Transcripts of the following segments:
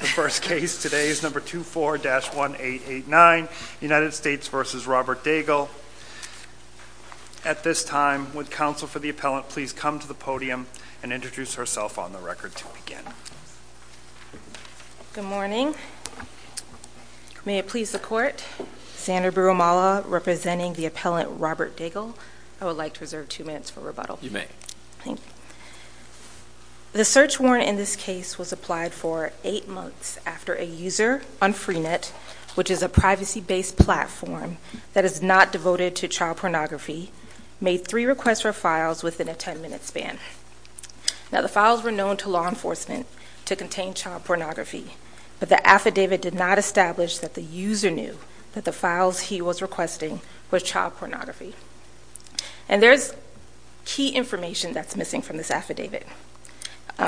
The first case today is number 24-1889, United States v. Robert Daigle. At this time, would counsel for the appellant please come to the podium and introduce herself on the record to begin. Good morning. May it please the court, Sandra Birumala representing the appellant Robert Daigle. I would like to reserve two minutes for rebuttal. You may. Thank you. The search warrant in this case was applied for eight months after a user on Freenet, which is a privacy-based platform that is not devoted to child pornography, made three requests for files within a ten-minute span. Now the files were known to law enforcement to contain child pornography, but the affidavit did not establish that the user knew that the files he was requesting were child pornography. And there's key information that's missing from this affidavit.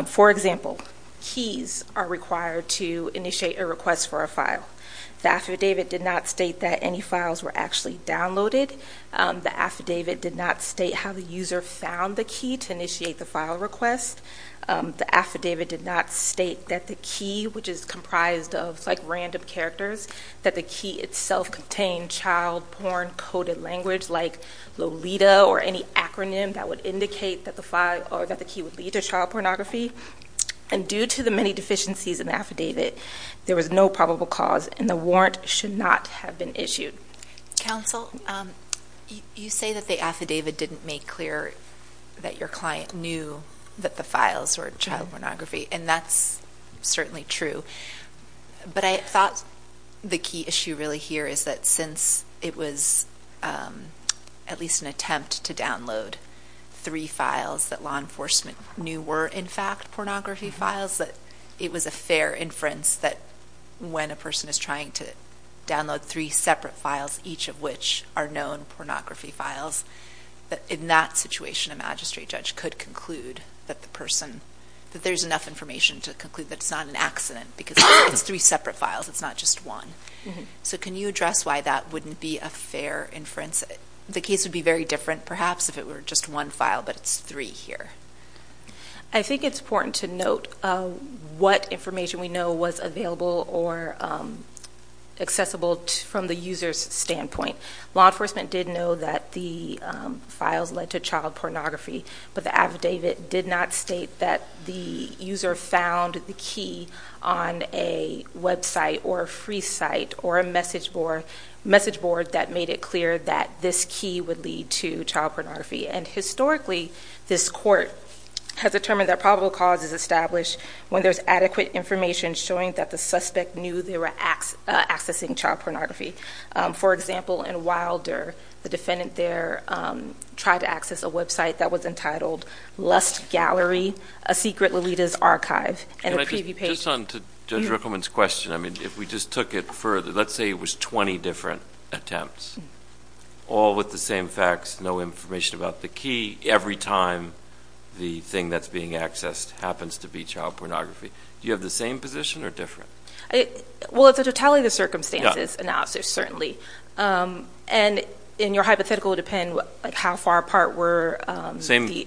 For example, keys are required to initiate a request for a file. The affidavit did not state that any files were actually downloaded. The affidavit did not state how the user found the key to initiate the file request. The affidavit did not state that the key, which is comprised of like random characters, that the key itself contained child porn-coded language like Lolita or any acronym that would indicate that the key would lead to child pornography. And due to the many deficiencies in the affidavit, there was no probable cause, and the warrant should not have been issued. Counsel, you say that the affidavit didn't make clear that your client knew that the files were child pornography, and that's certainly true. But I thought the key issue really here is that since it was at least an attempt to download three files that law enforcement knew were, in fact, pornography files, that it was a fair inference that when a person is trying to download three separate files, each of which are known pornography files, that in that situation a magistrate judge could conclude that the person, that there's enough information to conclude that it's not an accident because it's three separate files, it's not just one. So can you address why that wouldn't be a fair inference? The case would be very different perhaps if it were just one file, but it's three here. I think it's important to note what information we know was available or accessible from the user's standpoint. Law enforcement did know that the files led to child pornography, but the affidavit did not state that the user found the key on a website or a free site or a message board that made it clear that this key would lead to child pornography. And historically, this court has determined that probable cause is established when there's adequate information showing that the suspect knew they were accessing child pornography. For example, in Wilder, the defendant there tried to access a website that was entitled Lust Gallery, a secret Lolita's archive, and a preview page. Just on Judge Rickleman's question, I mean, if we just took it further, let's say it was 20 different attempts, all with the same facts, no information about the key, every time the thing that's being accessed happens to be child pornography, do you have the same position or different? Well, it's a totality of circumstances analysis, certainly. And in your hypothetical, it would depend how far apart were the...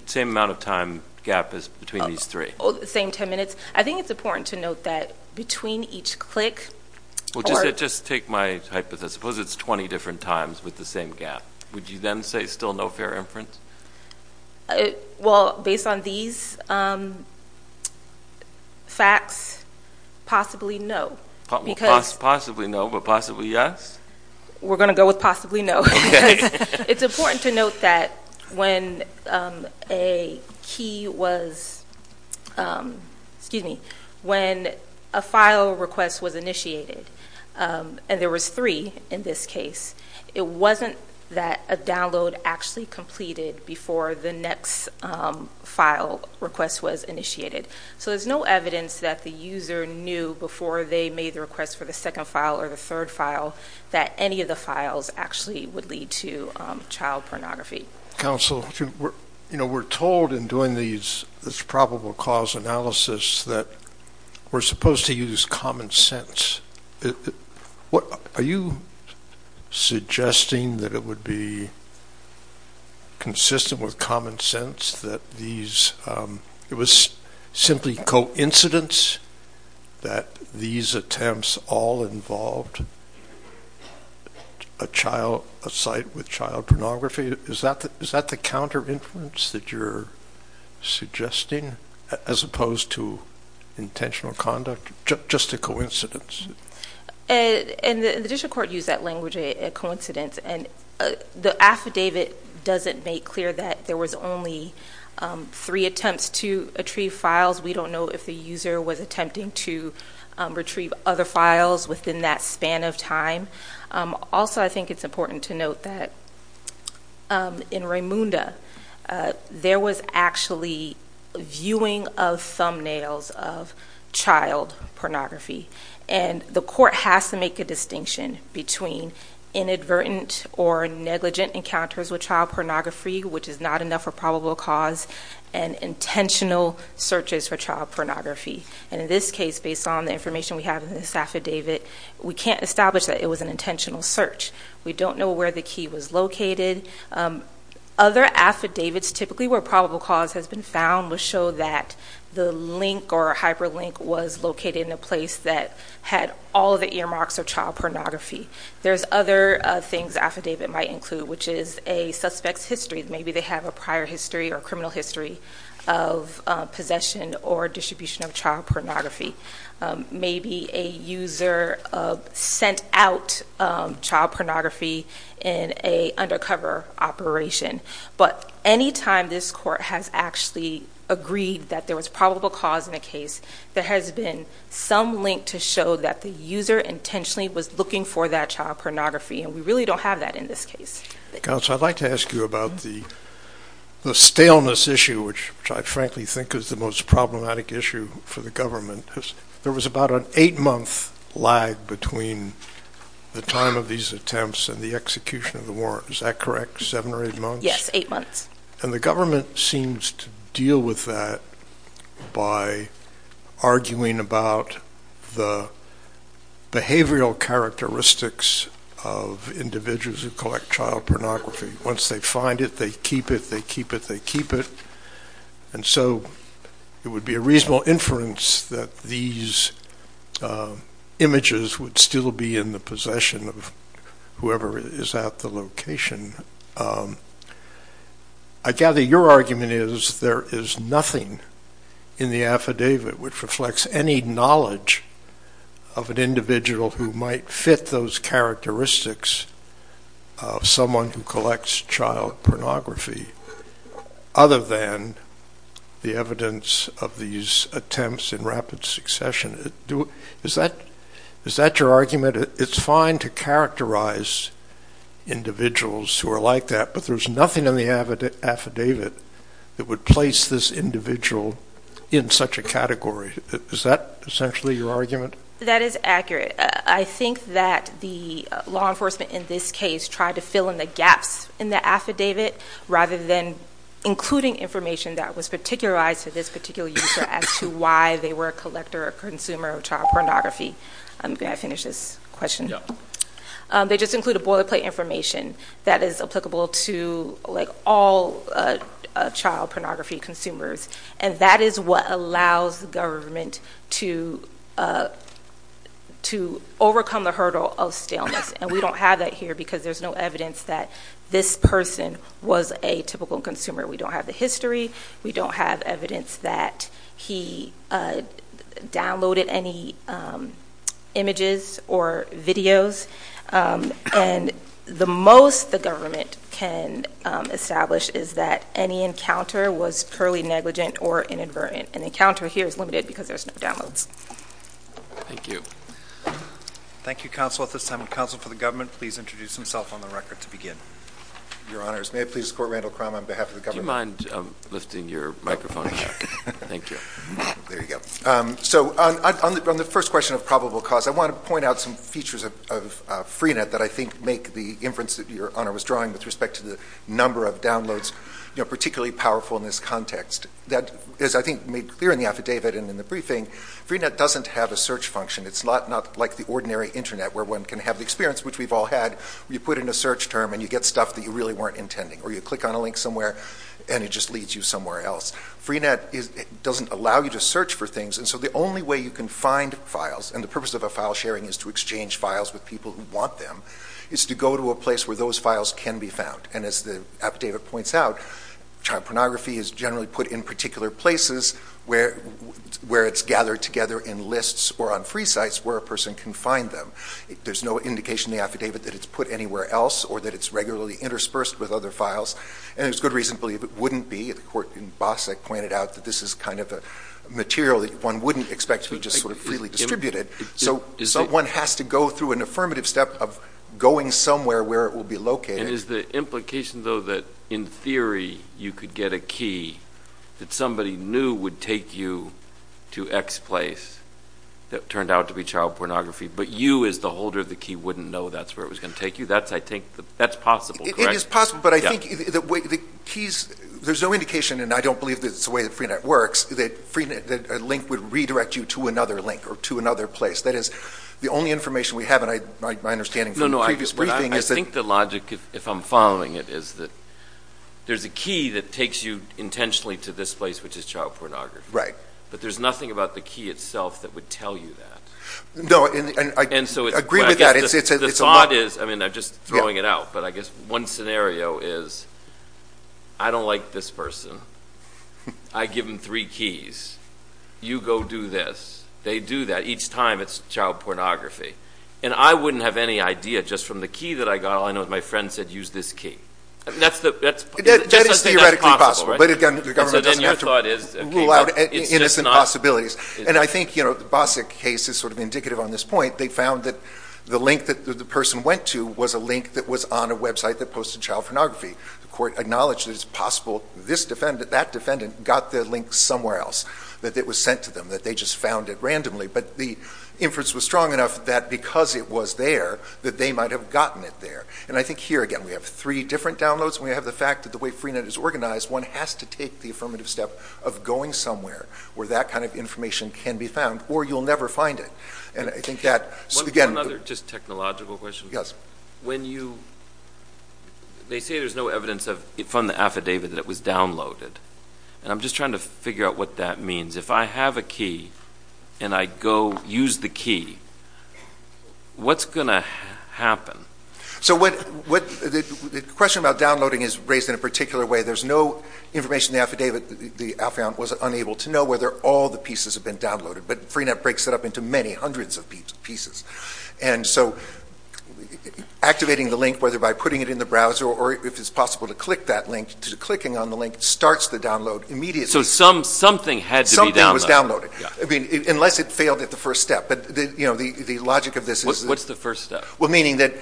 Same amount of time gap is between these three. Oh, the same 10 minutes. I think it's important to note that between each click... Well, just take my hypothesis. Suppose it's 20 different times with the same gap. Would you then say still no fair inference? Well, based on these facts, possibly no. Possibly no, but possibly yes? We're going to go with possibly no. It's important to note that when a key was... Excuse me. When a file request was initiated, and there was three in this case, it wasn't that a download actually completed before the next file request was initiated. So there's no evidence that the user knew before they made the request for the second file or the third file that any of the files actually would lead to child pornography. Counsel, we're told in doing this probable cause analysis that we're supposed to use common sense. Are you suggesting that it would be consistent with common sense that these... It was simply coincidence that these attempts all involved a site with child pornography? Is that the counter inference that you're suggesting as opposed to intentional conduct? Just a coincidence? And the district court used that language, a coincidence, and the affidavit doesn't make clear that there was only three attempts to retrieve files. We don't know if the user was attempting to retrieve other files within that span of time. Also, I think it's important to note that in Raymunda, there was actually viewing of child pornography, and the court has to make a distinction between inadvertent or negligent encounters with child pornography, which is not enough for probable cause, and intentional searches for child pornography. And in this case, based on the information we have in this affidavit, we can't establish that it was an intentional search. We don't know where the key was located. Other affidavits, typically where probable cause has been found, will show that the link or hyperlink was located in a place that had all of the earmarks of child pornography. There's other things the affidavit might include, which is a suspect's history. Maybe they have a prior history or criminal history of possession or distribution of child pornography. Maybe a user sent out child pornography in an undercover operation. But any time this court has actually agreed that there was probable cause in a case, there has been some link to show that the user intentionally was looking for that child pornography, and we really don't have that in this case. Counsel, I'd like to ask you about the staleness issue, which I frankly think is the most problematic issue for the government. There was about an eight-month lag between the time of these attempts and the execution of the warrant. Is that correct? Seven or eight months? Yes, eight months. And the government seems to deal with that by arguing about the behavioral characteristics of individuals who collect child pornography. Once they find it, they keep it, they keep it, they keep it. And so it would be a reasonable inference that these images would still be in the possession of whoever is at the location. I gather your argument is there is nothing in the affidavit which reflects any knowledge of an individual who might fit those characteristics of someone who collects child pornography other than the evidence of these attempts in rapid succession. Is that your argument? You said it's fine to characterize individuals who are like that, but there's nothing in the affidavit that would place this individual in such a category. Is that essentially your argument? That is accurate. I think that the law enforcement in this case tried to fill in the gaps in the affidavit rather than including information that was particularized to this particular user as to why they were a collector or consumer of child pornography. Can I finish this question? They just include a boilerplate information that is applicable to all child pornography consumers and that is what allows the government to overcome the hurdle of staleness and we don't have that here because there's no evidence that this person was a typical consumer. We don't have the history. We don't have evidence that he downloaded any images or videos and the most the government can establish is that any encounter was purely negligent or inadvertent. An encounter here is limited because there's no downloads. Thank you. Thank you counsel. At this time would counsel for the government please introduce himself on the record to begin. Your honors, may I please escort Randall Crum on behalf of the government? Randall, do you mind lifting your microphone? Thank you. There you go. So on the first question of probable cause, I want to point out some features of Freenet that I think make the inference that your honor was drawing with respect to the number of downloads particularly powerful in this context. That is I think made clear in the affidavit and in the briefing. Freenet doesn't have a search function. It's not like the ordinary internet where one can have the experience which we've all had where you put in a search term and you get stuff that you really weren't intending or you click on a link somewhere and it just leads you somewhere else. Freenet doesn't allow you to search for things and so the only way you can find files, and the purpose of a file sharing is to exchange files with people who want them, is to go to a place where those files can be found and as the affidavit points out, child pornography is generally put in particular places where it's gathered together in lists or on free sites where a person can find them. There's no indication in the affidavit that it's put anywhere else or that it's regularly interspersed with other files and there's good reason to believe it wouldn't be. The court in Bosak pointed out that this is kind of a material that one wouldn't expect to be just sort of freely distributed. So one has to go through an affirmative step of going somewhere where it will be located. And is the implication though that in theory you could get a key that somebody knew would take you to X place that turned out to be child pornography but you as the holder of the key wouldn't know that's where it was going to take you? That's possible, correct? It is possible, but I think the keys, there's no indication and I don't believe it's the way that Freenet works that a link would redirect you to another link or to another place. That is the only information we have and my understanding from the previous briefing is that... No, no, I think the logic if I'm following it is that there's a key that takes you intentionally to this place which is child pornography. Right. But there's nothing about the key itself that would tell you that. No. And so it's... I agree with that. It's a lot... The thought is, I mean I'm just throwing it out, but I guess one scenario is I don't like this person. I give them three keys. You go do this. They do that. Each time it's child pornography. And I wouldn't have any idea just from the key that I got, all I know is my friend said use this key. That's the... That is theoretically possible. But again, the government doesn't have to rule out innocent possibilities. And I think, you know, the Bosick case is sort of indicative on this point. They found that the link that the person went to was a link that was on a website that posted child pornography. The court acknowledged that it's possible this defendant, that defendant got the link somewhere else, that it was sent to them, that they just found it randomly. But the inference was strong enough that because it was there, that they might have gotten it there. And I think here again, we have three different downloads. We have the fact that the way Freenet is organized, one has to take the affirmative step of going somewhere where that kind of information can be found or you'll never find it. And I think that... One other just technological question. When you... They say there's no evidence from the affidavit that it was downloaded, and I'm just trying to figure out what that means. If I have a key and I go use the key, what's going to happen? So the question about downloading is raised in a particular way. There's no information in the affidavit. The affidavit was unable to know whether all the pieces have been downloaded, but Freenet breaks it up into many hundreds of pieces. And so activating the link, whether by putting it in the browser or if it's possible to click that link, clicking on the link starts the download immediately. So something had to be downloaded. Something was downloaded. Yeah. I mean, unless it failed at the first step. But the logic of this is... What's the first step? Well, meaning that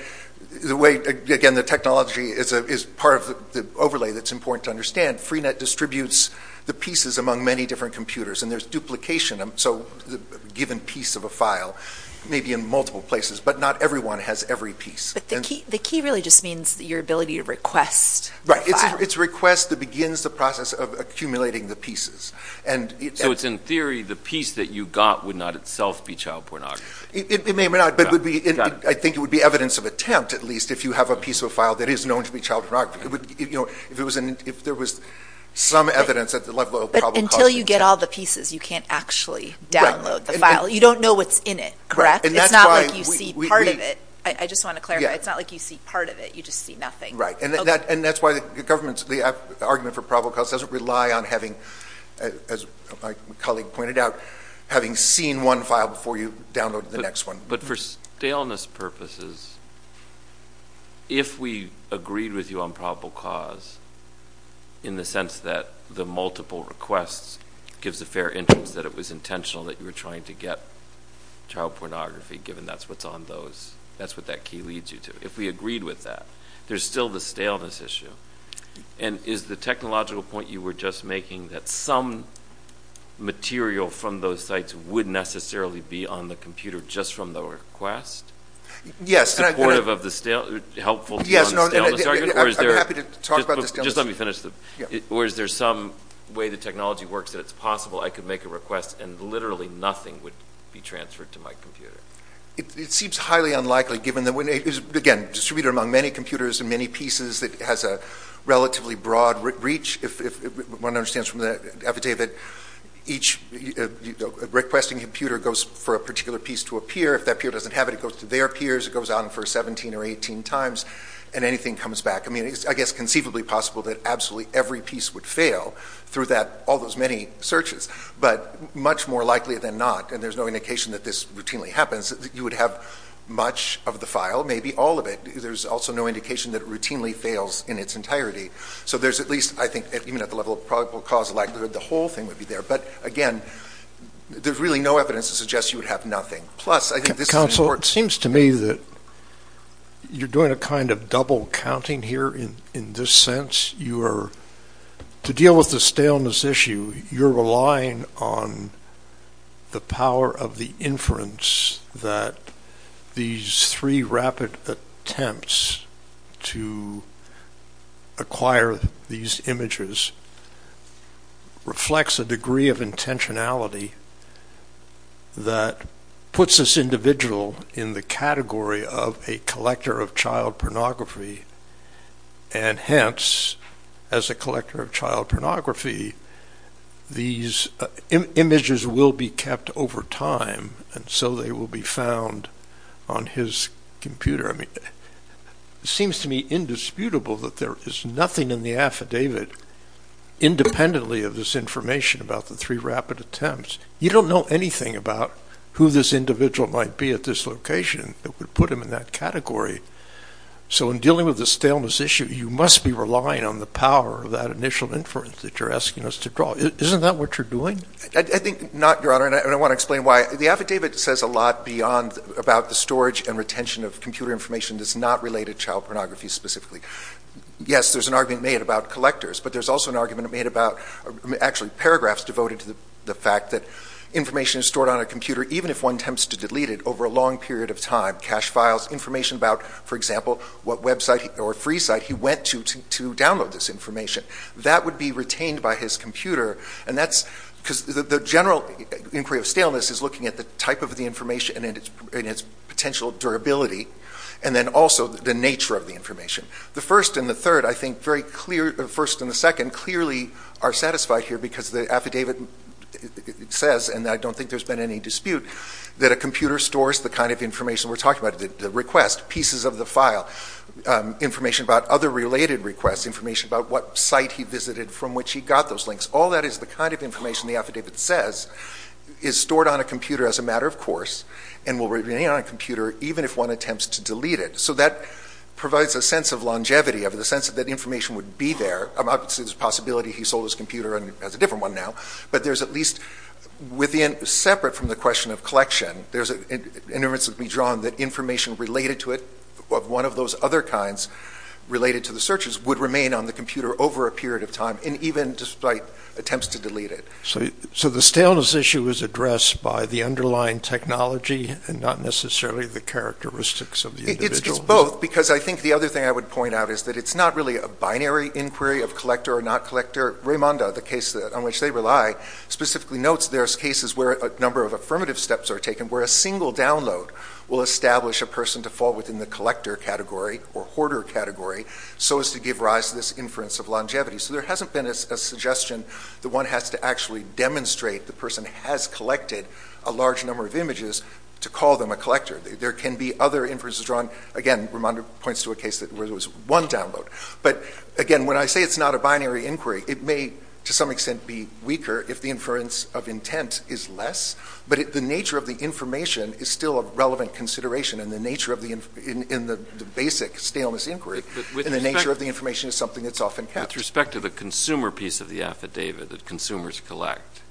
the way, again, the technology is part of the overlay that's important to Freenet distributes the pieces among many different computers, and there's duplication. So a given piece of a file may be in multiple places, but not everyone has every piece. But the key really just means your ability to request the file. It's a request that begins the process of accumulating the pieces. And so it's in theory, the piece that you got would not itself be child pornography. It may not, but I think it would be evidence of attempt, at least, if you have a piece of a file that is known to be child pornography. If there was some evidence that the level of the problem caused it to be child pornography. Until you get all the pieces, you can't actually download the file. You don't know what's in it. And that's why... It's not like you see part of it. I just want to clarify. It's not like you see part of it. You just see nothing. Right. And that's why the government's... The argument for probable cause doesn't rely on having, as my colleague pointed out, having seen one file before you download the next one. But for staleness purposes, if we agreed with you on probable cause in the sense that the multiple requests gives a fair interest that it was intentional that you were trying to get child pornography, given that's what's on those... That's what that key leads you to. If we agreed with that, there's still the staleness issue. And is the technological point you were just making that some material from those sites would necessarily be on the computer just from the request? Yes. Supportive of the... Helpful to the staleness argument? Or is there... I'm happy to talk about the staleness. Just let me finish. Yeah. Or is there some way the technology works that it's possible I could make a request and literally nothing would be transferred to my computer? It seems highly unlikely, given that, again, distributed among many computers and many pieces that has a relatively broad reach. One understands from the affidavit, each requesting computer goes for a particular piece to a If that peer doesn't have it, it goes to their peers. It goes on for 17 or 18 times. And anything comes back. I mean, it's, I guess, conceivably possible that absolutely every piece would fail through that all those many searches. But much more likely than not, and there's no indication that this routinely happens, you would have much of the file, maybe all of it. There's also no indication that it routinely fails in its entirety. So there's at least, I think, even at the level of probable cause likelihood, the whole thing would be there. But again, there's really no evidence to suggest you would have nothing. Plus, I think this is... It seems to me that you're doing a kind of double counting here in this sense. You are, to deal with the staleness issue, you're relying on the power of the inference that these three rapid attempts to acquire these images reflects a degree of intentionality that puts this individual in the category of a collector of child pornography. And hence, as a collector of child pornography, these images will be kept over time. And so they will be found on his computer. I mean, it seems to me indisputable that there is nothing in the affidavit, independently of this information about the three rapid attempts, you don't know anything about who this individual might be at this location that would put him in that category. So in dealing with the staleness issue, you must be relying on the power of that initial inference that you're asking us to draw. Isn't that what you're doing? I think not, Your Honor, and I want to explain why. The affidavit says a lot beyond about the storage and retention of computer information that's not related to child pornography specifically. Yes, there's an argument made about collectors. But there's also an argument made about, actually, paragraphs devoted to the fact that information is stored on a computer, even if one attempts to delete it, over a long period of time. Cache files, information about, for example, what website or free site he went to to download this information. That would be retained by his computer, and that's because the general inquiry of staleness is looking at the type of the information and its potential durability, and then also the nature of the information. The first and the second, I think, very clearly are satisfied here because the affidavit says, and I don't think there's been any dispute, that a computer stores the kind of information we're talking about. The request, pieces of the file, information about other related requests, information about what site he visited from which he got those links. All that is the kind of information the affidavit says is stored on a computer as a matter of course and will remain on a computer even if one attempts to delete it. So that provides a sense of longevity, of the sense that information would be there. Obviously, there's a possibility he sold his computer and has a different one now, but there's at least within, separate from the question of collection, there's an inference that would be drawn that information related to it, of one of those other kinds related to the searches, would remain on the computer over a period of time, and even despite attempts to delete it. So the staleness issue is addressed by the underlying technology and not necessarily the characteristics of the individual? It's both, because I think the other thing I would point out is that it's not really a binary inquiry of collector or not collector. Raimonda, the case on which they rely, specifically notes there's cases where a number of affirmative steps are taken where a single download will establish a person to fall within the collector category or hoarder category so as to give rise to this inference of longevity. So there hasn't been a suggestion that one has to actually demonstrate the person has collected a large number of images to call them a collector. There can be other inferences drawn. Again, Raimonda points to a case where there was one download. But again, when I say it's not a binary inquiry, it may, to some extent, be weaker if the inference of intent is less, but the nature of the information is still a relevant consideration in the nature of the basic staleness inquiry, and the nature of the information is something that's often kept. With respect to the consumer piece of the affidavit that consumers collect,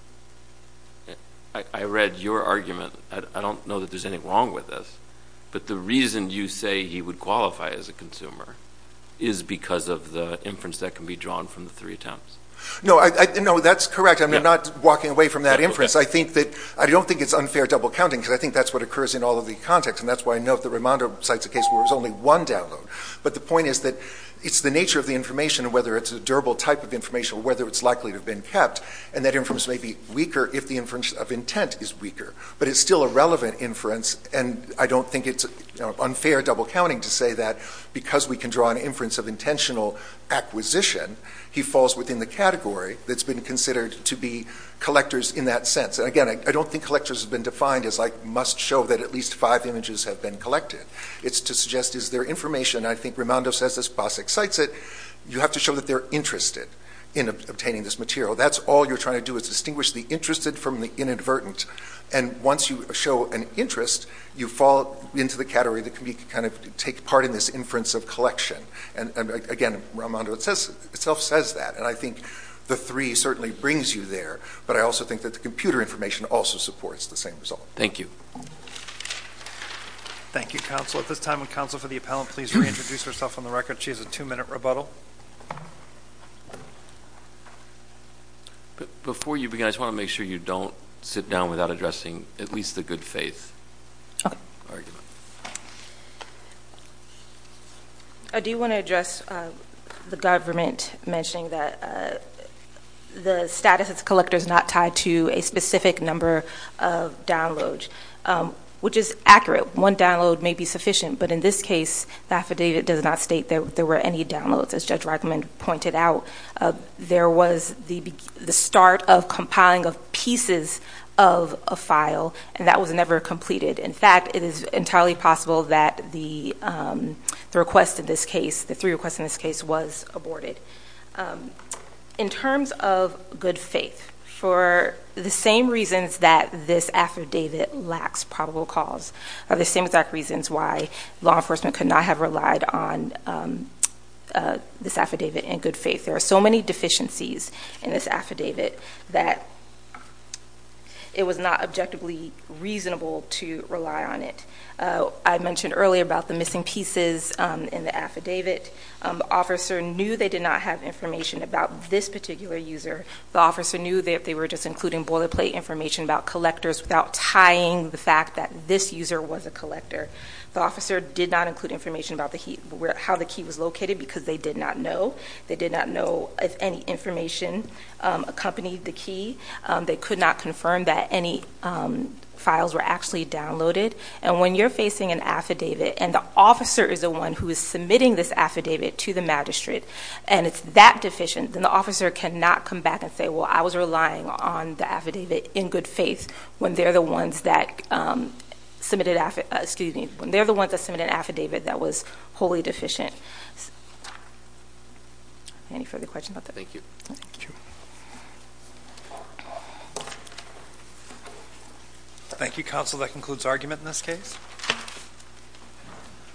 I read your argument. I don't know that there's anything wrong with this, but the reason you say he would qualify as a consumer is because of the inference that can be drawn from the three attempts. No, that's correct. I'm not walking away from that inference. I don't think it's unfair double counting, because I think that's what occurs in all of the context, and that's why I note that Raimonda cites a case where there's only one download. But the point is that it's the nature of the information, whether it's a durable type of information or whether it's likely to have been kept, and that inference may be weaker if the inference of intent is weaker, but it's still a relevant inference, and I don't think it's unfair double counting to say that because we can draw an inference of intentional acquisition, he falls within the category that's been considered to be collectors in that sense. And again, I don't think collectors have been defined as, like, must show that at least five images have been collected. It's to suggest is there information, and I think Raimonda says this, Basak cites it, you have to show that they're interested in obtaining this material. That's all you're trying to do is distinguish the interested from the inadvertent, and once you show an interest, you fall into the category that can be kind of take part in this inference of collection. And again, Raimonda itself says that, and I think the three certainly brings you there, but I also think that the computer information also supports the same result. Thank you. Thank you, counsel. At this time, would counsel for the appellant please reintroduce herself on the record? She has a two-minute rebuttal. Before you begin, I just want to make sure you don't sit down without addressing at least the good faith. Okay. Argument. I do want to address the government mentioning that the status as a collector is not tied to a specific number of downloads, which is accurate. One download may be sufficient, but in this case, the affidavit does not state that there were any downloads. As Judge Reichman pointed out, there was the start of compiling of pieces of a file, and that was never completed. In fact, it is entirely possible that the request in this case, the three requests in this case, was aborted. In terms of good faith, for the same reasons that this affidavit lacks probable cause, the same exact reasons why law enforcement could not have relied on this affidavit in good faith. There are so many deficiencies in this affidavit that it was not objectively reasonable to rely on it. I mentioned earlier about the missing pieces in the affidavit. The officer knew they did not have information about this particular user. The officer knew that they were just including boilerplate information about collectors without tying the fact that this user was a collector. The officer did not include information about how the key was located, because they did not know. They did not know if any information accompanied the key. They could not confirm that any files were actually downloaded. And when you're facing an affidavit, and the officer is the one who is submitting this affidavit to the magistrate, and it's that deficient, then the officer cannot come back and say, well, I was relying on the affidavit in good faith when they're the ones that submitted an affidavit that was wholly deficient. Any further questions about that? Thank you. Thank you. Thank you, counsel. That concludes argument in this case.